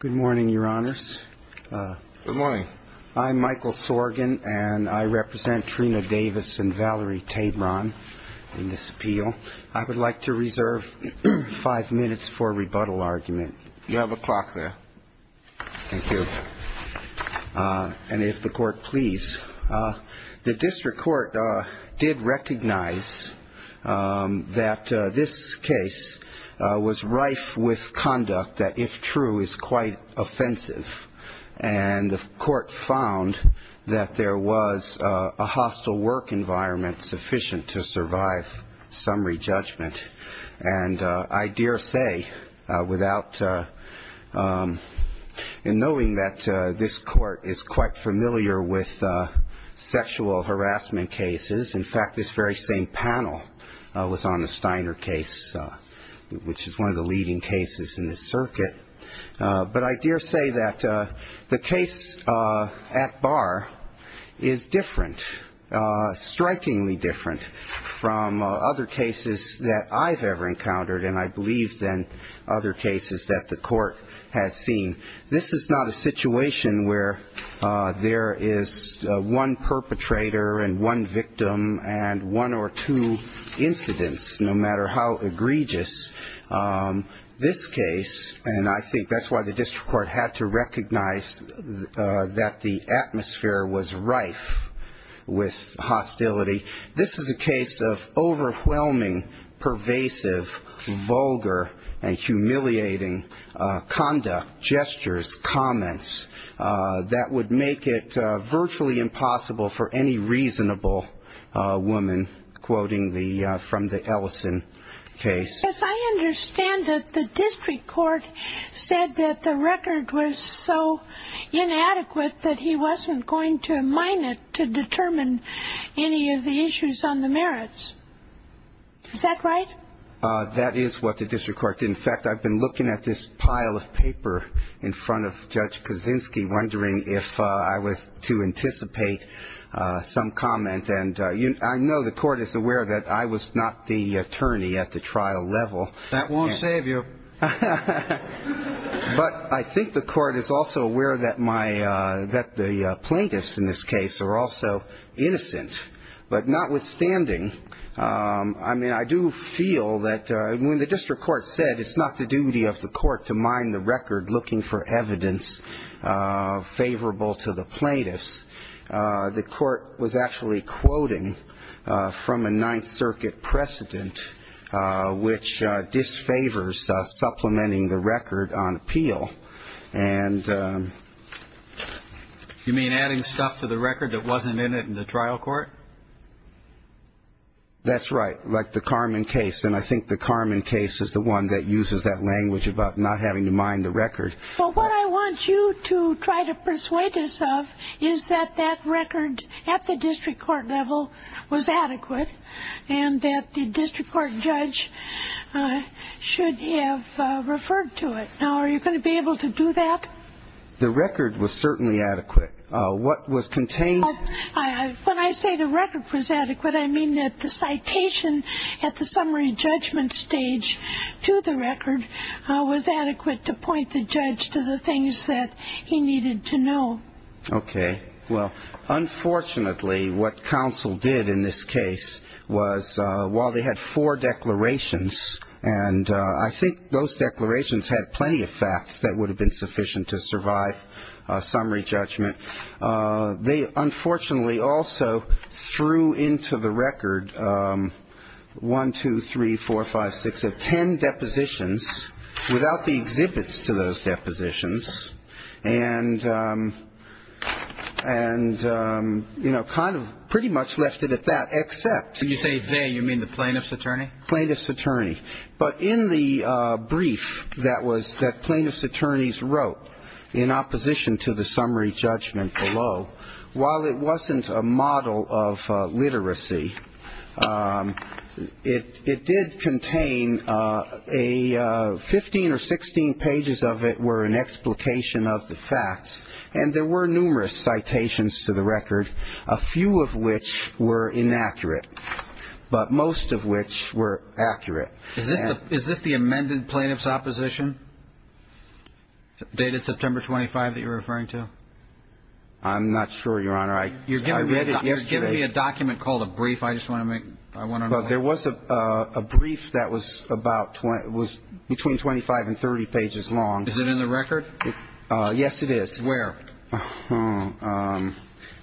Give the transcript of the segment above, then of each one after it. Good morning, Your Honors. Good morning. I'm Michael Sorgan, and I represent Trina Davis and Valerie Tabron in this appeal. I would like to reserve five minutes for a rebuttal argument. You have a clock there. Thank you. And if the Court please. The District Court did recognize that this case was rife with conduct that, if true, is quite offensive. And the Court found that there was a hostile work environment sufficient to survive summary judgment. And I dare say, without ñ and knowing that this Court is quite familiar with sexual harassment cases ñ in fact, this very same panel was on the Steiner case, which is one of the leading cases in this circuit. But I dare say that the case at bar is different, strikingly different, from other cases that I've ever encountered, and I believe than other cases that the Court has seen. This is not a situation where there is one perpetrator and one victim and one or two incidents, no matter how egregious this case And I think that's why the District Court had to recognize that the atmosphere was rife with hostility. This is a case of overwhelming, pervasive, vulgar and humiliating conduct, gestures, comments, that would make it virtually impossible for any reasonable woman, quoting from the Ellison case. I understand that the District Court said that the record was so inadequate that he wasn't going to mine it to determine any of the issues on the merits. Is that right? That is what the District Court did. In fact, I've been looking at this pile of paper in front of Judge Kaczynski, wondering if I was to anticipate some comment. And I know the Court is aware that I was not the attorney at the trial level. That won't save you. But I think the Court is also aware that the plaintiffs in this case are also innocent. But notwithstanding, I do feel that when the District Court said it's not the duty of the Court to mine the record looking for evidence favorable to the plaintiffs, the Court was actually quoting from a Ninth Circuit precedent, which disfavors supplementing the record on appeal. You mean adding stuff to the record that wasn't in it in the trial court? That's right, like the Carman case. And I think the Carman case is the one that uses that language about not having to mine the record. Well, what I want you to try to persuade us of is that that record at the District Court level was adequate and that the District Court judge should have referred to it. Now, are you going to be able to do that? The record was certainly adequate. When I say the record was adequate, I mean that the citation at the summary judgment stage to the record was adequate to point the judge to the things that he needed to know. Okay. Well, unfortunately, what counsel did in this case was while they had four declarations, and I think those declarations had plenty of facts that would have been sufficient to survive a summary judgment, they unfortunately also threw into the record one, two, three, four, five, six, ten depositions without the exhibits to those depositions and, you know, kind of pretty much left it at that, except. When you say they, you mean the plaintiff's attorney? Plaintiff's attorney. But in the brief that was, that plaintiff's attorneys wrote in opposition to the summary judgment below, while it wasn't a model of literacy, it did contain a 15 or 16 pages of it were an explication of the facts, and there were numerous citations to the record, a few of which were inaccurate, but most of which were accurate. Is this the amended plaintiff's opposition dated September 25 that you're referring to? I'm not sure, Your Honor. I read it yesterday. You're giving me a document called a brief. I just want to make, I want to know. There was a brief that was about, was between 25 and 30 pages long. Is it in the record? Yes, it is. Where?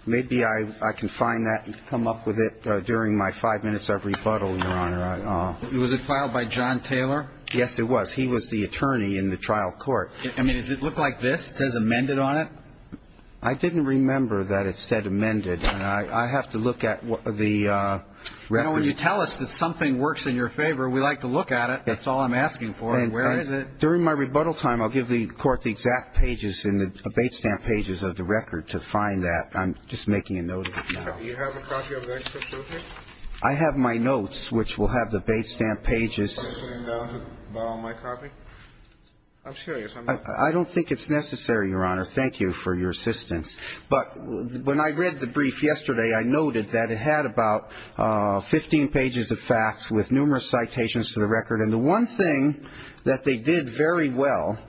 Maybe I can find that and come up with it during my five minutes of rebuttal, Your Honor. Was it filed by John Taylor? Yes, it was. He was the attorney in the trial court. I mean, does it look like this? It says amended on it? I didn't remember that it said amended. I have to look at the record. You know, when you tell us that something works in your favor, we like to look at it. That's all I'm asking for. And where is it? During my rebuttal time, I'll give the Court the exact pages in the bait stamp pages of the record to find that. I'm just making a note of it now. Do you have a copy of the extra proof here? I have my notes, which will have the bait stamp pages. Do you have a question about my copy? I'm sure you have. I don't think it's necessary, Your Honor. Thank you for your assistance. But when I read the brief yesterday, I noted that it had about 15 pages of facts with numerous citations to the record. And the one thing that they did very well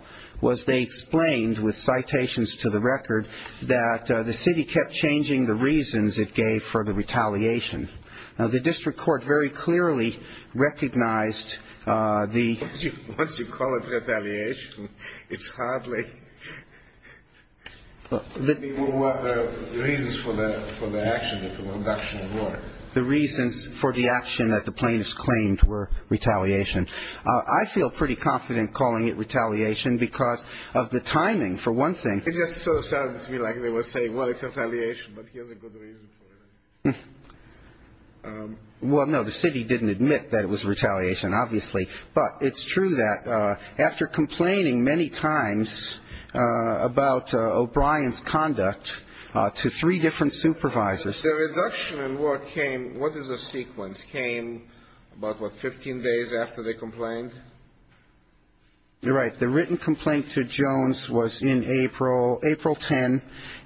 was they explained with citations to the record that the city kept changing the reasons it gave for the retaliation. Now, the district court very clearly recognized the ---- Once you call it retaliation, it's hardly ---- The reasons for the action that the plaintiffs claimed were retaliation. I feel pretty confident calling it retaliation because of the timing, for one thing. It just sort of sounded to me like they were saying, well, it's retaliation, but here's a good reason for it. Well, no, the city didn't admit that it was retaliation, obviously. But it's true that after complaining many times about O'Brien's conduct to three different supervisors ---- The reduction in work came ---- what is the sequence? Came about, what, 15 days after they complained? You're right. The written complaint to Jones was in April, April 10.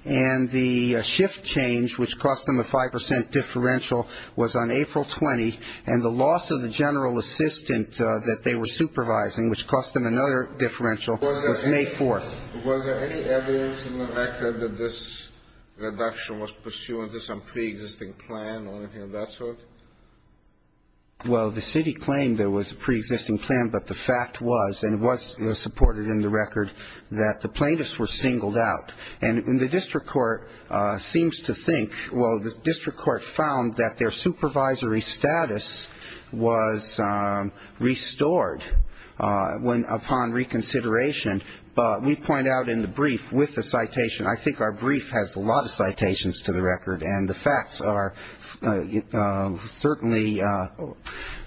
And the shift change, which cost them a 5% differential, was on April 20. And the loss of the general assistant that they were supervising, which cost them another differential, was May 4th. Was there any evidence in the record that this reduction was pursuant to some preexisting plan or anything of that sort? Well, the city claimed there was a preexisting plan, but the fact was, and was supported in the record, that the plaintiffs were singled out. And the district court seems to think ---- well, the district court found that their supervisory status was restored upon reconsideration. But we point out in the brief with the citation, I think our brief has a lot of citations to the record, and the facts are certainly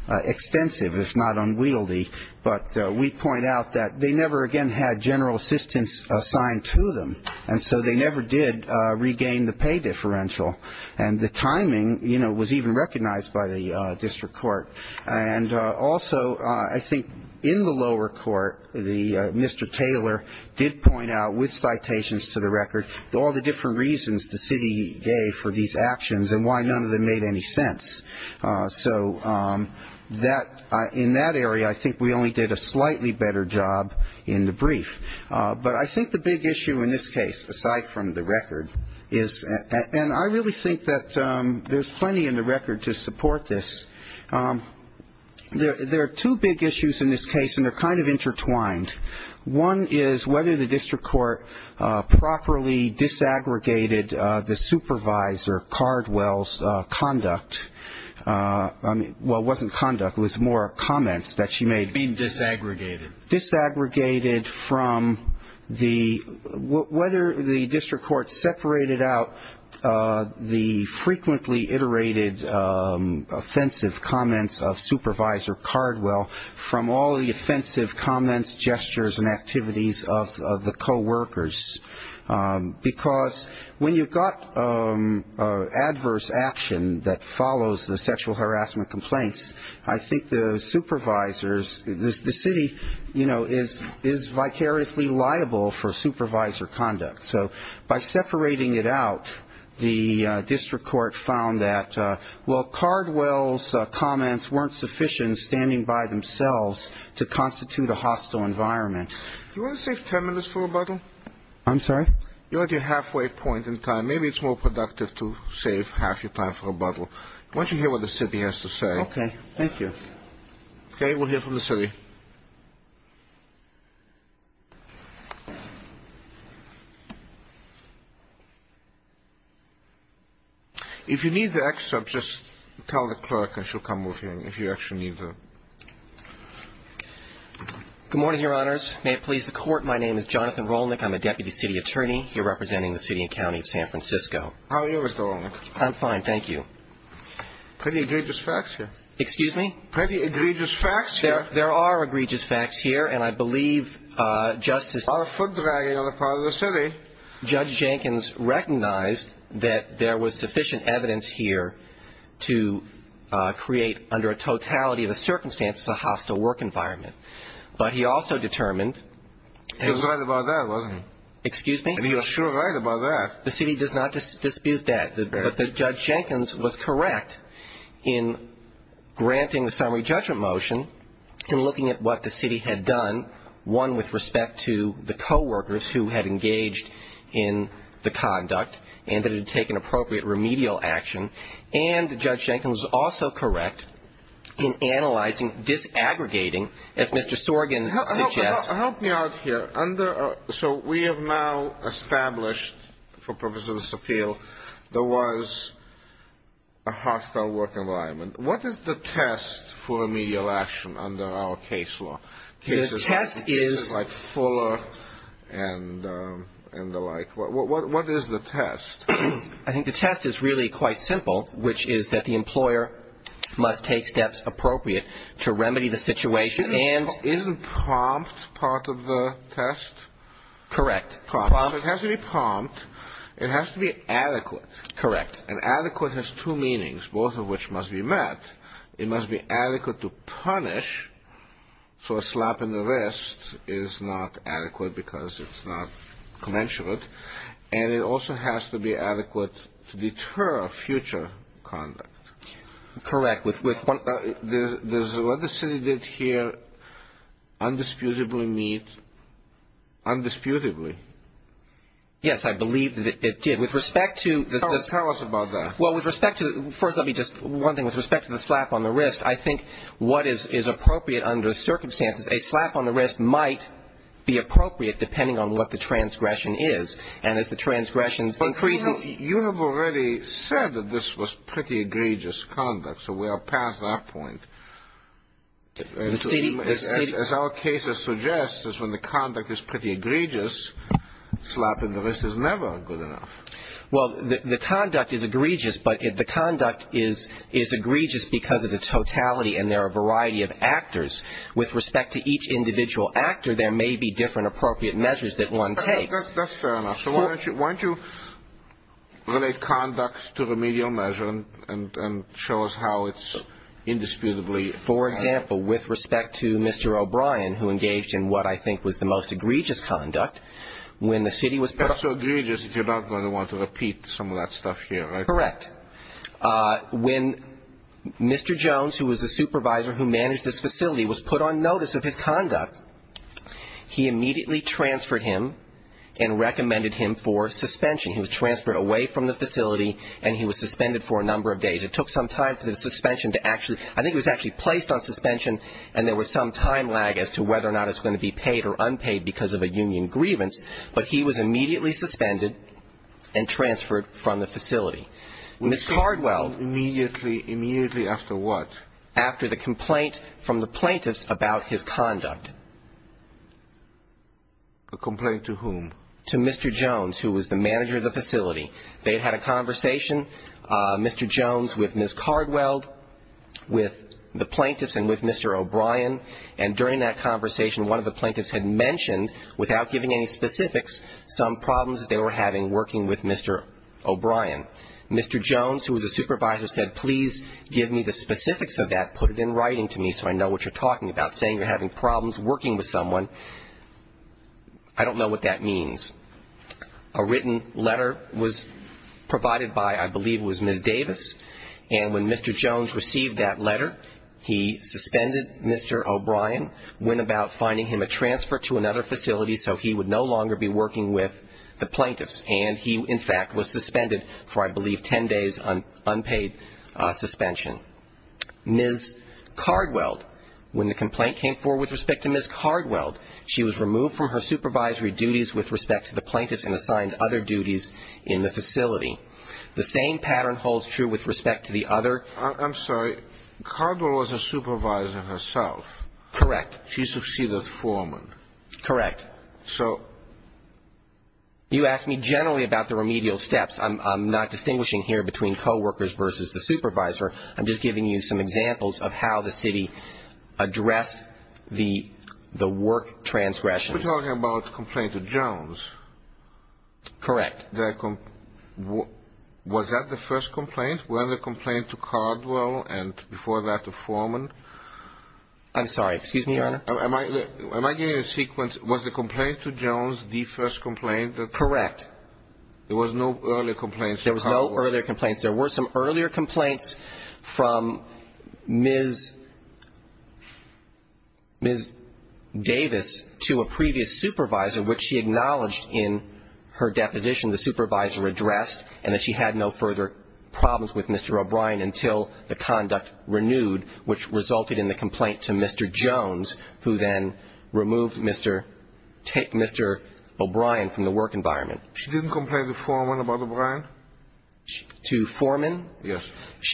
extensive, if not unwieldy. But we point out that they never again had general assistants assigned to them, and so they never did regain the pay differential. And the timing, you know, was even recognized by the district court. And also, I think in the lower court, Mr. Taylor did point out, with citations to the record, all the different reasons the city gave for these actions and why none of them made any sense. So in that area, I think we only did a slightly better job in the brief. But I think the big issue in this case, aside from the record, is ---- There are two big issues in this case, and they're kind of intertwined. One is whether the district court properly disaggregated the supervisor, Cardwell's, conduct. Well, it wasn't conduct. It was more comments that she made. You mean disaggregated. Disaggregated from the ---- Whether the district court separated out the frequently iterated offensive comments of Supervisor Cardwell from all the offensive comments, gestures, and activities of the coworkers. Because when you've got adverse action that follows the sexual harassment complaints, I think the supervisors, the city, you know, is vicariously liable for supervisor conduct. So by separating it out, the district court found that, well, Cardwell's comments weren't sufficient standing by themselves to constitute a hostile environment. Do you want to save ten minutes for rebuttal? I'm sorry? You're at your halfway point in time. Maybe it's more productive to save half your time for rebuttal. I want you to hear what the city has to say. Okay. Thank you. Okay. We'll hear from the city. If you need the excerpt, just tell the clerk and she'll come with you if you actually need the ---- Good morning, Your Honors. May it please the court, my name is Jonathan Rolnick. I'm a deputy city attorney here representing the city and county of San Francisco. How are you, Mr. Rolnick? I'm fine, thank you. Pretty egregious facts here. Pretty egregious facts here. There are egregious facts here, and I believe Justice ---- A lot of foot dragging on the part of the city. Judge Jenkins recognized that there was sufficient evidence here to create, under a totality of the circumstances, a hostile work environment. But he also determined ---- He was right about that, wasn't he? Excuse me? I mean, you're sure right about that. The city does not dispute that. But Judge Jenkins was correct in granting the summary judgment motion and looking at what the city had done, one, with respect to the coworkers who had engaged in the conduct and that it had taken appropriate remedial action. And Judge Jenkins was also correct in analyzing, disaggregating, as Mr. Sorgen suggests ---- Help me out here. So we have now established, for purposes of this appeal, there was a hostile work environment. What is the test for remedial action under our case law? The test is ---- Fuller and the like. What is the test? I think the test is really quite simple, which is that the employer must take steps appropriate to remedy the situation and ---- Isn't prompt part of the test? Correct. Prompt. It has to be prompt. It has to be adequate. Correct. And adequate has two meanings, both of which must be met. It must be adequate to punish, so a slap in the wrist is not adequate because it's not commensurate. And it also has to be adequate to deter future conduct. Correct. What the city did here undisputably meets, undisputably. Yes, I believe that it did. With respect to the ---- Tell us about that. Well, with respect to the ---- First, let me just ---- One thing. With respect to the slap on the wrist, I think what is appropriate under circumstances, a slap on the wrist might be appropriate depending on what the transgression is. And as the transgressions increases ---- You have already said that this was pretty egregious conduct, so we are past that point. The city ---- As our case suggests, is when the conduct is pretty egregious, slapping the wrist is never good enough. Well, the conduct is egregious, but the conduct is egregious because of the totality, and there are a variety of actors. With respect to each individual actor, there may be different appropriate measures that one takes. That's fair enough. So why don't you relate conduct to remedial measure and show us how it's indisputably ---- For example, with respect to Mr. O'Brien, who engaged in what I think was the most egregious conduct, when the city was ---- Not so egregious if you're not going to want to repeat some of that stuff here, right? Correct. When Mr. Jones, who was the supervisor who managed this facility, was put on notice of his conduct, he immediately transferred him and recommended him for suspension. He was transferred away from the facility, and he was suspended for a number of days. It took some time for the suspension to actually ---- I think it was actually placed on suspension, and there was some time lag as to whether or not it's going to be paid or unpaid because of a union grievance, but he was immediately suspended and transferred from the facility. Ms. Cardwell ---- Immediately after what? After the complaint from the plaintiffs about his conduct. A complaint to whom? To Mr. Jones, who was the manager of the facility. They had had a conversation, Mr. Jones, with Ms. Cardwell, with the plaintiffs and with Mr. O'Brien, and during that conversation, one of the plaintiffs had mentioned, without giving any specifics, some problems that they were having working with Mr. O'Brien. Mr. Jones, who was a supervisor, said, please give me the specifics of that, put it in writing to me so I know what you're talking about, saying you're having problems working with someone. I don't know what that means. A written letter was provided by, I believe it was Ms. Davis, and when Mr. Jones received that letter, he suspended Mr. O'Brien, went about finding him a transfer to another facility so he would no longer be working with the plaintiffs, and he, in fact, was suspended for, I believe, 10 days, unpaid suspension. Ms. Cardwell, when the complaint came forward with respect to Ms. Cardwell, she was removed from her supervisory duties with respect to the plaintiffs and assigned other duties in the facility. The same pattern holds true with respect to the other. I'm sorry. Cardwell was a supervisor herself. Correct. She succeeded as foreman. Correct. You asked me generally about the remedial steps. I'm not distinguishing here between coworkers versus the supervisor. I'm just giving you some examples of how the city addressed the work transgressions. You're talking about the complaint to Jones. Correct. Was that the first complaint? Was the complaint to Cardwell and before that to foreman? I'm sorry. Excuse me, Your Honor. Am I getting a sequence? Was the complaint to Jones the first complaint? Correct. There was no earlier complaints to Cardwell? There was no earlier complaints. There were some earlier complaints from Ms. Davis to a previous supervisor, which she acknowledged in her deposition the supervisor addressed and that she had no further problems with Mr. O'Brien until the conduct renewed, which resulted in the complaint to Mr. Jones, who then removed Mr. O'Brien from the work environment. She didn't complain to foreman about O'Brien? To foreman? Yes.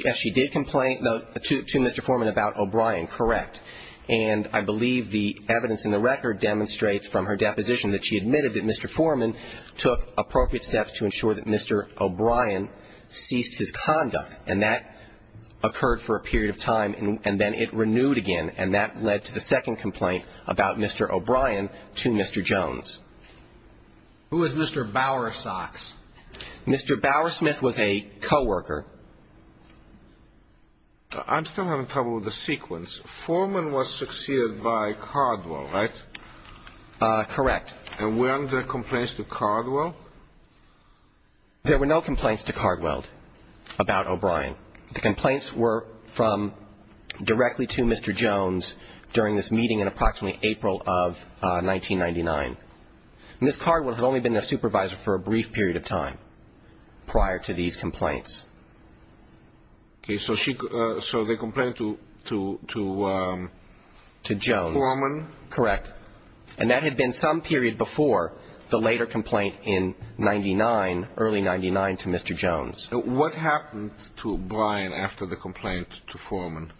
Yes, she did complain to Mr. Foreman about O'Brien. Correct. And I believe the evidence in the record demonstrates from her deposition that she admitted that Mr. Foreman took appropriate steps to ensure that Mr. O'Brien ceased his conduct, and that occurred for a period of time, and then it renewed again, and that led to the second complaint about Mr. O'Brien to Mr. Jones. Who was Mr. Bowersox? Mr. Bowersmith was a coworker. I'm still having trouble with the sequence. Foreman was succeeded by Cardwell, right? Correct. And weren't there complaints to Cardwell? There were no complaints to Cardwell about O'Brien. The complaints were from directly to Mr. Jones during this meeting in approximately April of 1999. And this Cardwell had only been their supervisor for a brief period of time prior to these complaints. Okay. So they complained to foreman? To Jones. Correct. And that had been some period before the later complaint in 1999, early 1999, to Mr. Jones. What happened to O'Brien after the complaint to Foreman?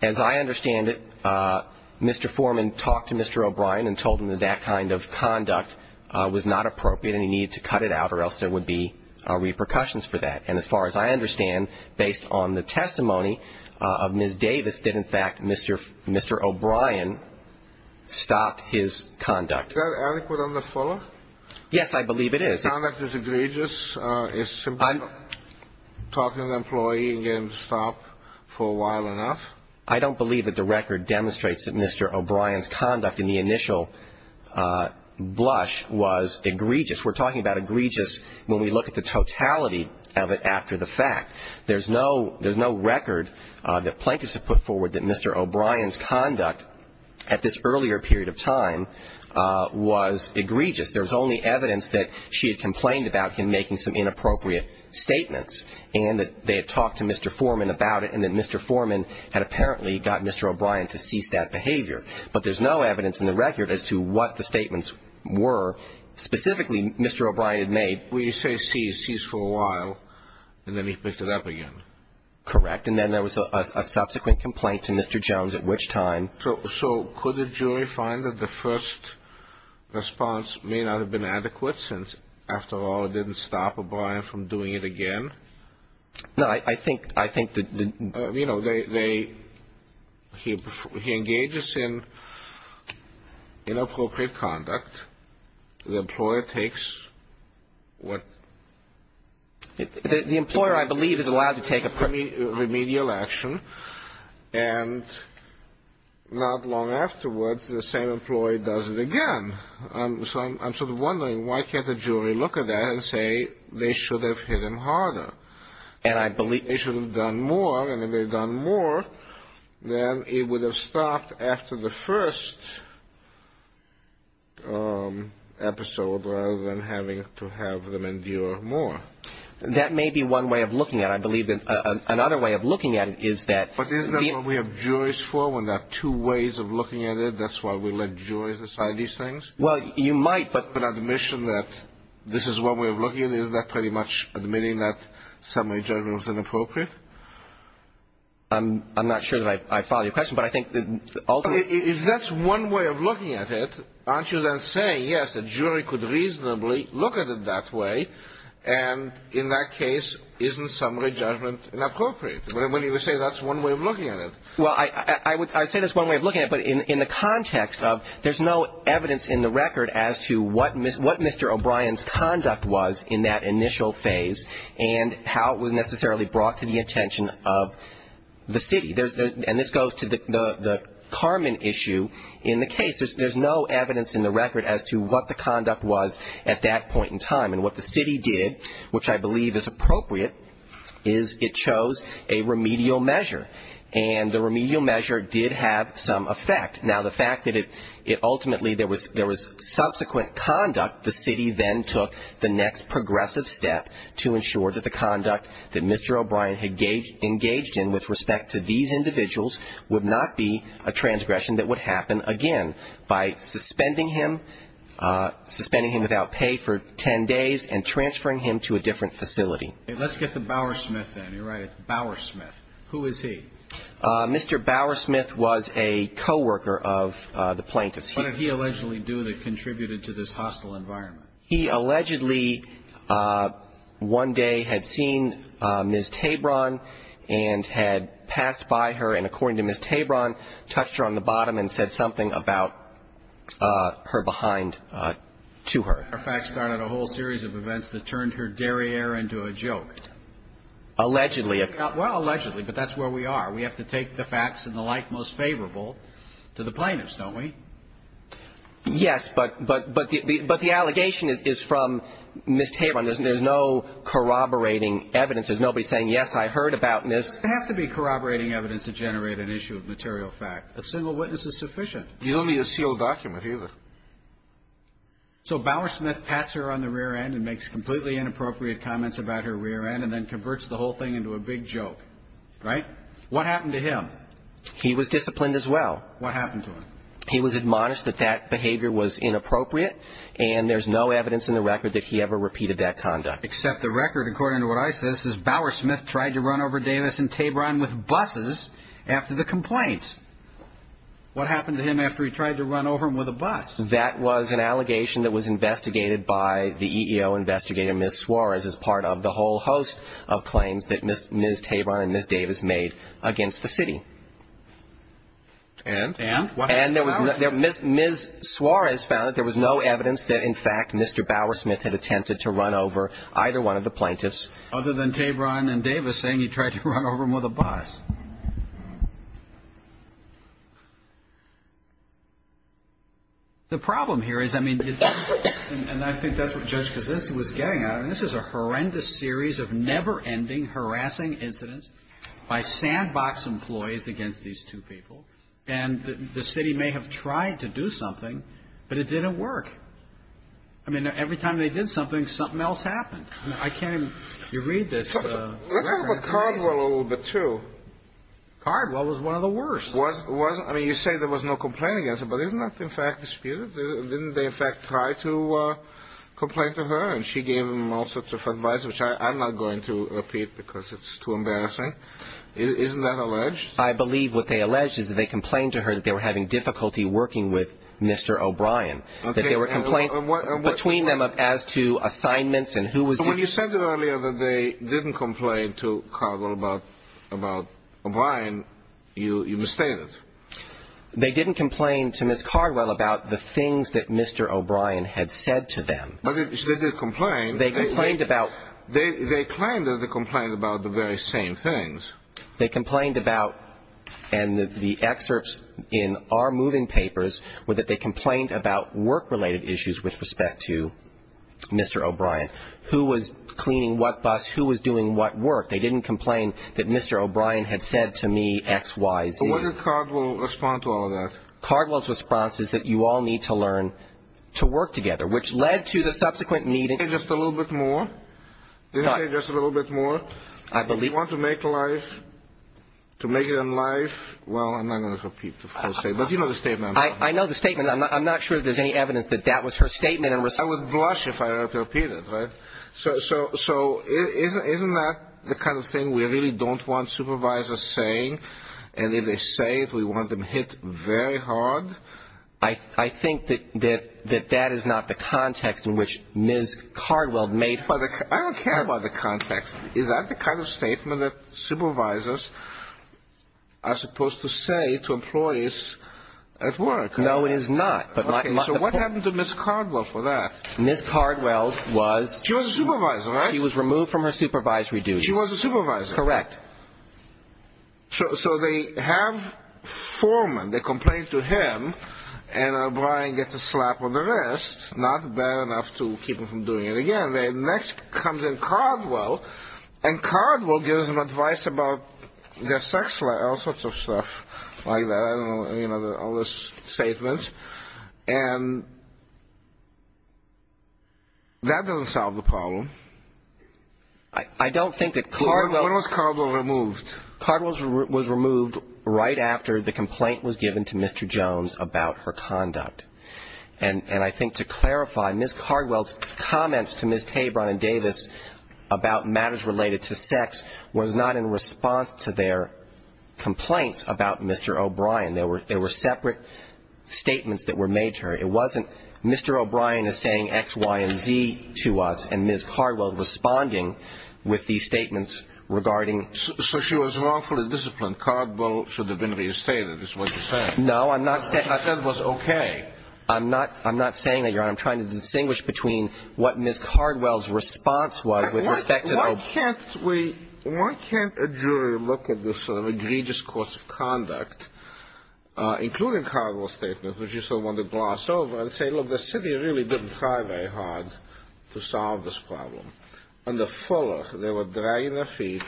As I understand it, Mr. Foreman talked to Mr. O'Brien and told him that that kind of conduct was not appropriate and he needed to cut it out or else there would be repercussions for that. And as far as I understand, based on the testimony of Ms. Davis, did, in fact, Mr. O'Brien stop his conduct? Is that adequate under Fuller? Yes, I believe it is. Conduct is egregious. It's simply talking to an employee and getting him to stop for a while enough. I don't believe that the record demonstrates that Mr. O'Brien's conduct in the initial blush was egregious. We're talking about egregious when we look at the totality of it after the fact. There's no record that plaintiffs have put forward that Mr. O'Brien's conduct at this earlier period of time was egregious. There's only evidence that she had complained about him making some inappropriate statements and that they had talked to Mr. Foreman about it and that Mr. Foreman had apparently got Mr. O'Brien to cease that behavior. But there's no evidence in the record as to what the statements were specifically Mr. O'Brien had made. Well, you say cease. Cease for a while and then he picked it up again. Correct. And then there was a subsequent complaint to Mr. Jones at which time. So could the jury find that the first response may not have been adequate since, after all, it didn't stop O'Brien from doing it again? No, I think that the ---- You know, they ---- he engages in inappropriate conduct. The employer takes what ---- The employer, I believe, is allowed to take a ---- Remedial action. And not long afterwards, the same employee does it again. So I'm sort of wondering why can't the jury look at that and say they should have hit him harder? And I believe ---- They should have done more. And if they had done more, then it would have stopped after the first episode rather than having to have them endure more. That may be one way of looking at it. I believe another way of looking at it is that ---- But isn't that what we have juries for when there are two ways of looking at it? That's why we let juries decide these things? Well, you might, but ---- But the admission that this is one way of looking at it, is that pretty much admitting that summary judgment was inappropriate? I'm not sure that I follow your question, but I think that ultimately ---- If that's one way of looking at it, aren't you then saying, yes, the jury could reasonably look at it that way, and in that case, isn't summary judgment inappropriate? When you say that's one way of looking at it. Well, I would say that's one way of looking at it, but in the context of there's no evidence in the record as to what Mr. O'Brien's conduct was in that initial phase and how it was necessarily brought to the attention of the city. And this goes to the Carmen issue in the case. There's no evidence in the record as to what the conduct was at that point in time. And what the city did, which I believe is appropriate, is it chose a remedial measure. And the remedial measure did have some effect. Now, the fact that it ultimately there was subsequent conduct, the city then took the next progressive step to ensure that the conduct that Mr. O'Brien had engaged in with respect to these individuals would not be a transgression that would happen again by suspending him, suspending him without pay for 10 days and transferring him to a different facility. Let's get the Bowersmith then. You're right, it's Bowersmith. Who is he? Mr. Bowersmith was a co-worker of the plaintiff's. What did he allegedly do that contributed to this hostile environment? He allegedly one day had seen Ms. Tabron and had passed by her, and according to Ms. Tabron touched her on the bottom and said something about her behind to her. As a matter of fact, started a whole series of events that turned her derriere into a joke. Allegedly. Well, allegedly, but that's where we are. We have to take the facts and the like most favorable to the plaintiffs, don't we? Yes, but the allegation is from Ms. Tabron. There's no corroborating evidence. There's nobody saying, yes, I heard about this. There doesn't have to be corroborating evidence to generate an issue of material fact. A single witness is sufficient. He's only a sealed document, either. So Bowersmith pats her on the rear end and makes completely inappropriate comments about her rear end and then converts the whole thing into a big joke, right? What happened to him? He was disciplined as well. What happened to him? He was admonished that that behavior was inappropriate, and there's no evidence in the record that he ever repeated that conduct. Except the record, according to what I see, says Bowersmith tried to run over Davis and Tabron with buses after the complaint. What happened to him after he tried to run over him with a bus? That was an allegation that was investigated by the EEO investigator, Ms. Suarez, as part of the whole host of claims that Ms. Tabron and Ms. Davis made against the city. And? And Ms. Suarez found that there was no evidence that, in fact, Mr. Bowersmith had attempted to run over either one of the plaintiffs. Other than Tabron and Davis saying he tried to run over them with a bus. The problem here is, I mean, and I think that's what Judge Kasinsky was getting at, and this is a horrendous series of never-ending harassing incidents by sandbox employees against these two people, and the city may have tried to do something, but it didn't work. I mean, every time they did something, something else happened. I can't even, you read this. Let's talk about Cardwell a little bit, too. Cardwell was one of the worst. I mean, you say there was no complaint against him, but isn't that, in fact, disputed? Didn't they, in fact, try to complain to her, and she gave them all sorts of advice, which I'm not going to repeat because it's too embarrassing. Isn't that alleged? I believe what they allege is that they complained to her that they were having difficulty working with Mr. O'Brien. That there were complaints between them as to assignments and who was doing what. So when you said earlier that they didn't complain to Cardwell about O'Brien, you misstated. They didn't complain to Ms. Cardwell about the things that Mr. O'Brien had said to them. But they did complain. They complained about. They claimed that they complained about the very same things. They complained about, and the excerpts in our moving papers, were that they complained about work-related issues with respect to Mr. O'Brien. Who was cleaning what bus, who was doing what work. They didn't complain that Mr. O'Brien had said to me X, Y, Z. So what did Cardwell respond to all of that? Cardwell's response is that you all need to learn to work together, which led to the subsequent meeting. Didn't they just a little bit more? Didn't they just a little bit more? You want to make life, to make it in life, well, I'm not going to repeat the full statement. But you know the statement. I know the statement. I'm not sure that there's any evidence that that was her statement. I would blush if I were to repeat it, right? So isn't that the kind of thing we really don't want supervisors saying? And if they say it, we want them hit very hard. I think that that is not the context in which Ms. Cardwell made her comment. I don't care about the context. Is that the kind of statement that supervisors are supposed to say to employees at work? No, it is not. So what happened to Ms. Cardwell for that? Ms. Cardwell was removed from her supervisory duties. She was a supervisor. Correct. So they have Foreman. They complain to him, and O'Brien gets a slap on the wrist, not bad enough to keep him from doing it again. And then next comes in Cardwell, and Cardwell gives them advice about their sex life, all sorts of stuff like that. I don't know, you know, all those statements. And that doesn't solve the problem. I don't think that Cardwell was removed right after the complaint was given to Mr. Jones about her conduct. And I think to clarify, Ms. Cardwell's comments to Ms. Tabron and Davis about matters related to sex was not in response to their complaints about Mr. O'Brien. They were separate statements that were made to her. It wasn't Mr. O'Brien is saying X, Y, and Z to us, and Ms. Cardwell responding with these statements regarding ---- So she was wrongfully disciplined. Cardwell should have been restated is what you're saying. No, I'm not saying ---- What I said was okay. I'm not saying that, Your Honor. I'm trying to distinguish between what Ms. Cardwell's response was with respect to O'Brien. Why can't we – why can't a jury look at this sort of egregious course of conduct, including Cardwell's statement, which you so want to gloss over, and say, look, the city really didn't try very hard to solve this problem. On the fuller, they were dragging their feet,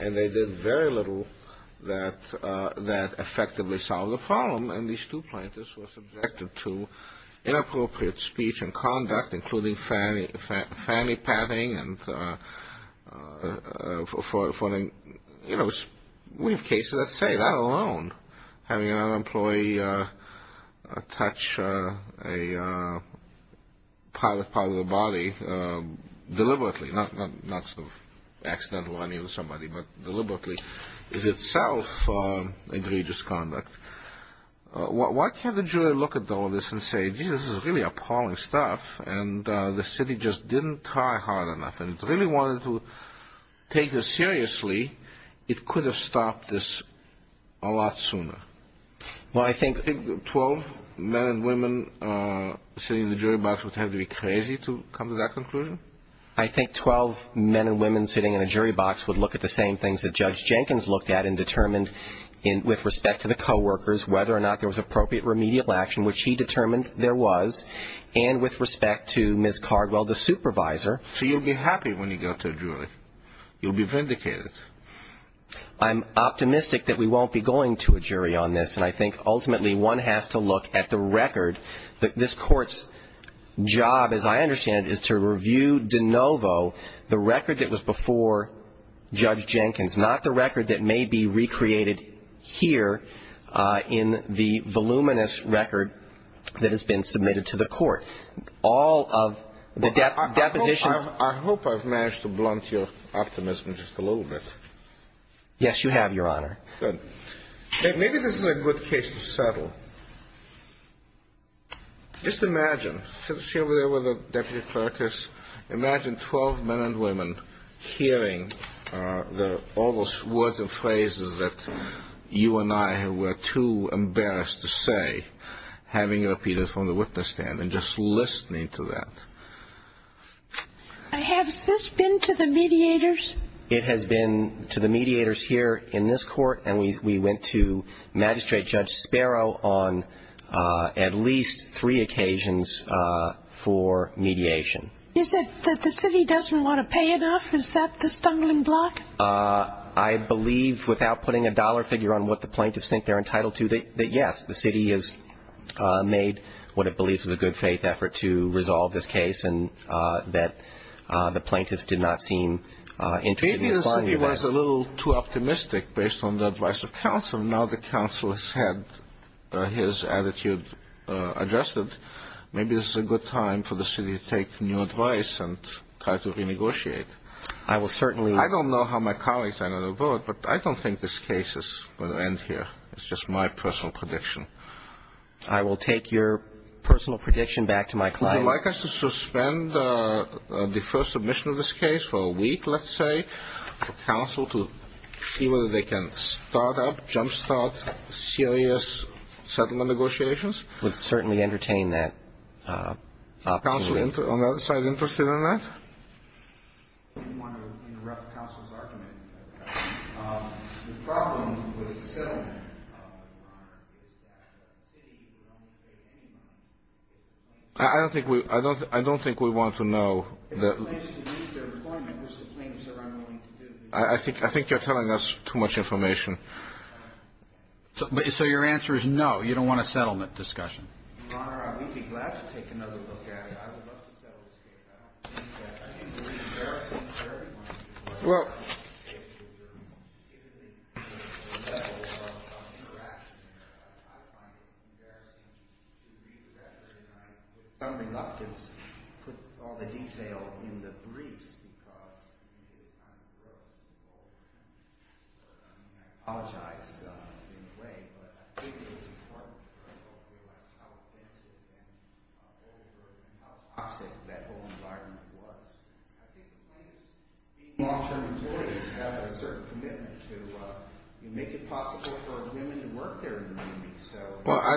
and they did very little that effectively solved the problem. And these two plaintiffs were subjected to inappropriate speech and conduct, including fanny patting, and for the – you know, we have cases that say that alone, having another employee touch a private part of the body deliberately, not sort of accidental on somebody, but deliberately, is itself egregious conduct. Why can't the jury look at all this and say, geez, this is really appalling stuff, and the city just didn't try hard enough and really wanted to take this seriously, it could have stopped this a lot sooner? Well, I think ---- You think 12 men and women sitting in the jury box would have to be crazy to come to that conclusion? I think 12 men and women sitting in a jury box would look at the same things that Judge Jenkins looked at and determined with respect to the coworkers whether or not there was appropriate remedial action, which he determined there was, and with respect to Ms. Cardwell, the supervisor. So you'll be happy when you go to a jury? You'll be vindicated? I'm optimistic that we won't be going to a jury on this, and I think ultimately one has to look at the record. This Court's job, as I understand it, is to review de novo the record that was before Judge Jenkins, not the record that may be recreated here in the voluminous record that has been submitted to the Court. All of the depositions ---- I hope I've managed to blunt your optimism just a little bit. Yes, you have, Your Honor. Good. Maybe this is a good case to settle. Just imagine, since you were there with the deputy clerk, just imagine 12 men and women hearing all those words and phrases that you and I were too embarrassed to say, having repeated from the witness stand and just listening to that. Has this been to the mediators? It has been to the mediators here in this Court, and we went to Magistrate Judge Sparrow on at least three occasions for mediation. Is it that the city doesn't want to pay enough? Is that the stumbling block? I believe, without putting a dollar figure on what the plaintiffs think they're entitled to, that yes, the city has made what it believes is a good faith effort to resolve this case and that the plaintiffs did not seem interested in acquiring that. Maybe the city was a little too optimistic based on the advice of counsel. Now the counsel has had his attitude adjusted. Maybe this is a good time for the city to take new advice and try to renegotiate. I will certainly ---- I don't know how my colleagues are going to vote, but I don't think this case is going to end here. It's just my personal prediction. I will take your personal prediction back to my client. Would you like us to suspend the first submission of this case for a week, let's say, for counsel to see whether they can start up, jumpstart serious settlement negotiations? I would certainly entertain that opportunity. Is counsel on the other side interested in that? I didn't want to interrupt counsel's argument. The problem with the settlement, Your Honor, is that the city would only pay any money. I don't think we want to know. If the plaintiffs would leave their employment, which the plaintiffs are unwilling to do. I think you're telling us too much information. So your answer is no, you don't want a settlement discussion? Your Honor, we'd be glad to take another look at it. I would love to settle this case. I think there is an embarrassment to everyone. Well.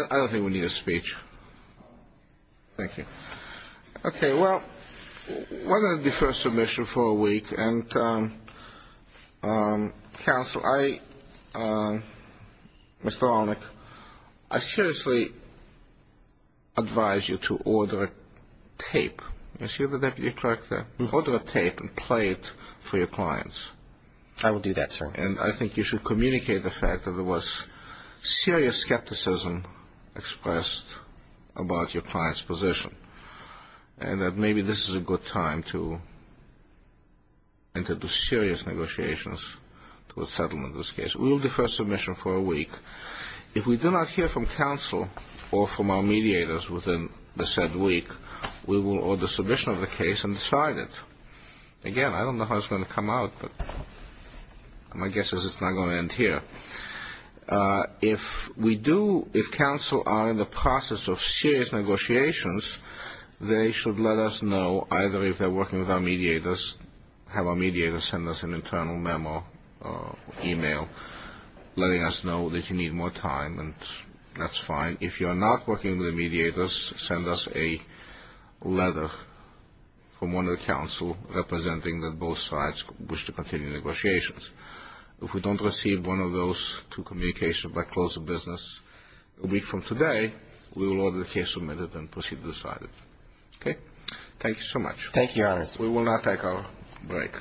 I don't think we need a speech. Thank you. Okay. Well, we're going to defer submission for a week. And counsel, I seriously advise you to order tape. You see the deputy clerk there? Order tape and play it for your clients. I will do that, sir. And I think you should communicate the fact that there was serious skepticism expressed about your client's position. And that maybe this is a good time to enter into serious negotiations to a settlement in this case. We will defer submission for a week. If we do not hear from counsel or from our mediators within the said week, we will order submission of the case and decide it. Again, I don't know how it's going to come out, but my guess is it's not going to end here. If we do, if counsel are in the process of serious negotiations, they should let us know either if they're working with our mediators, have our mediators send us an internal memo or e-mail letting us know that you need more time, and that's fine. If you're not working with the mediators, send us a letter from one of the counsel representing that both sides wish to continue negotiations. If we don't receive one of those two communications, we'll close the business a week from today. We will order the case submitted and proceed to decide it. Okay? Thank you so much. Thank you, Your Honor. We will now take our break.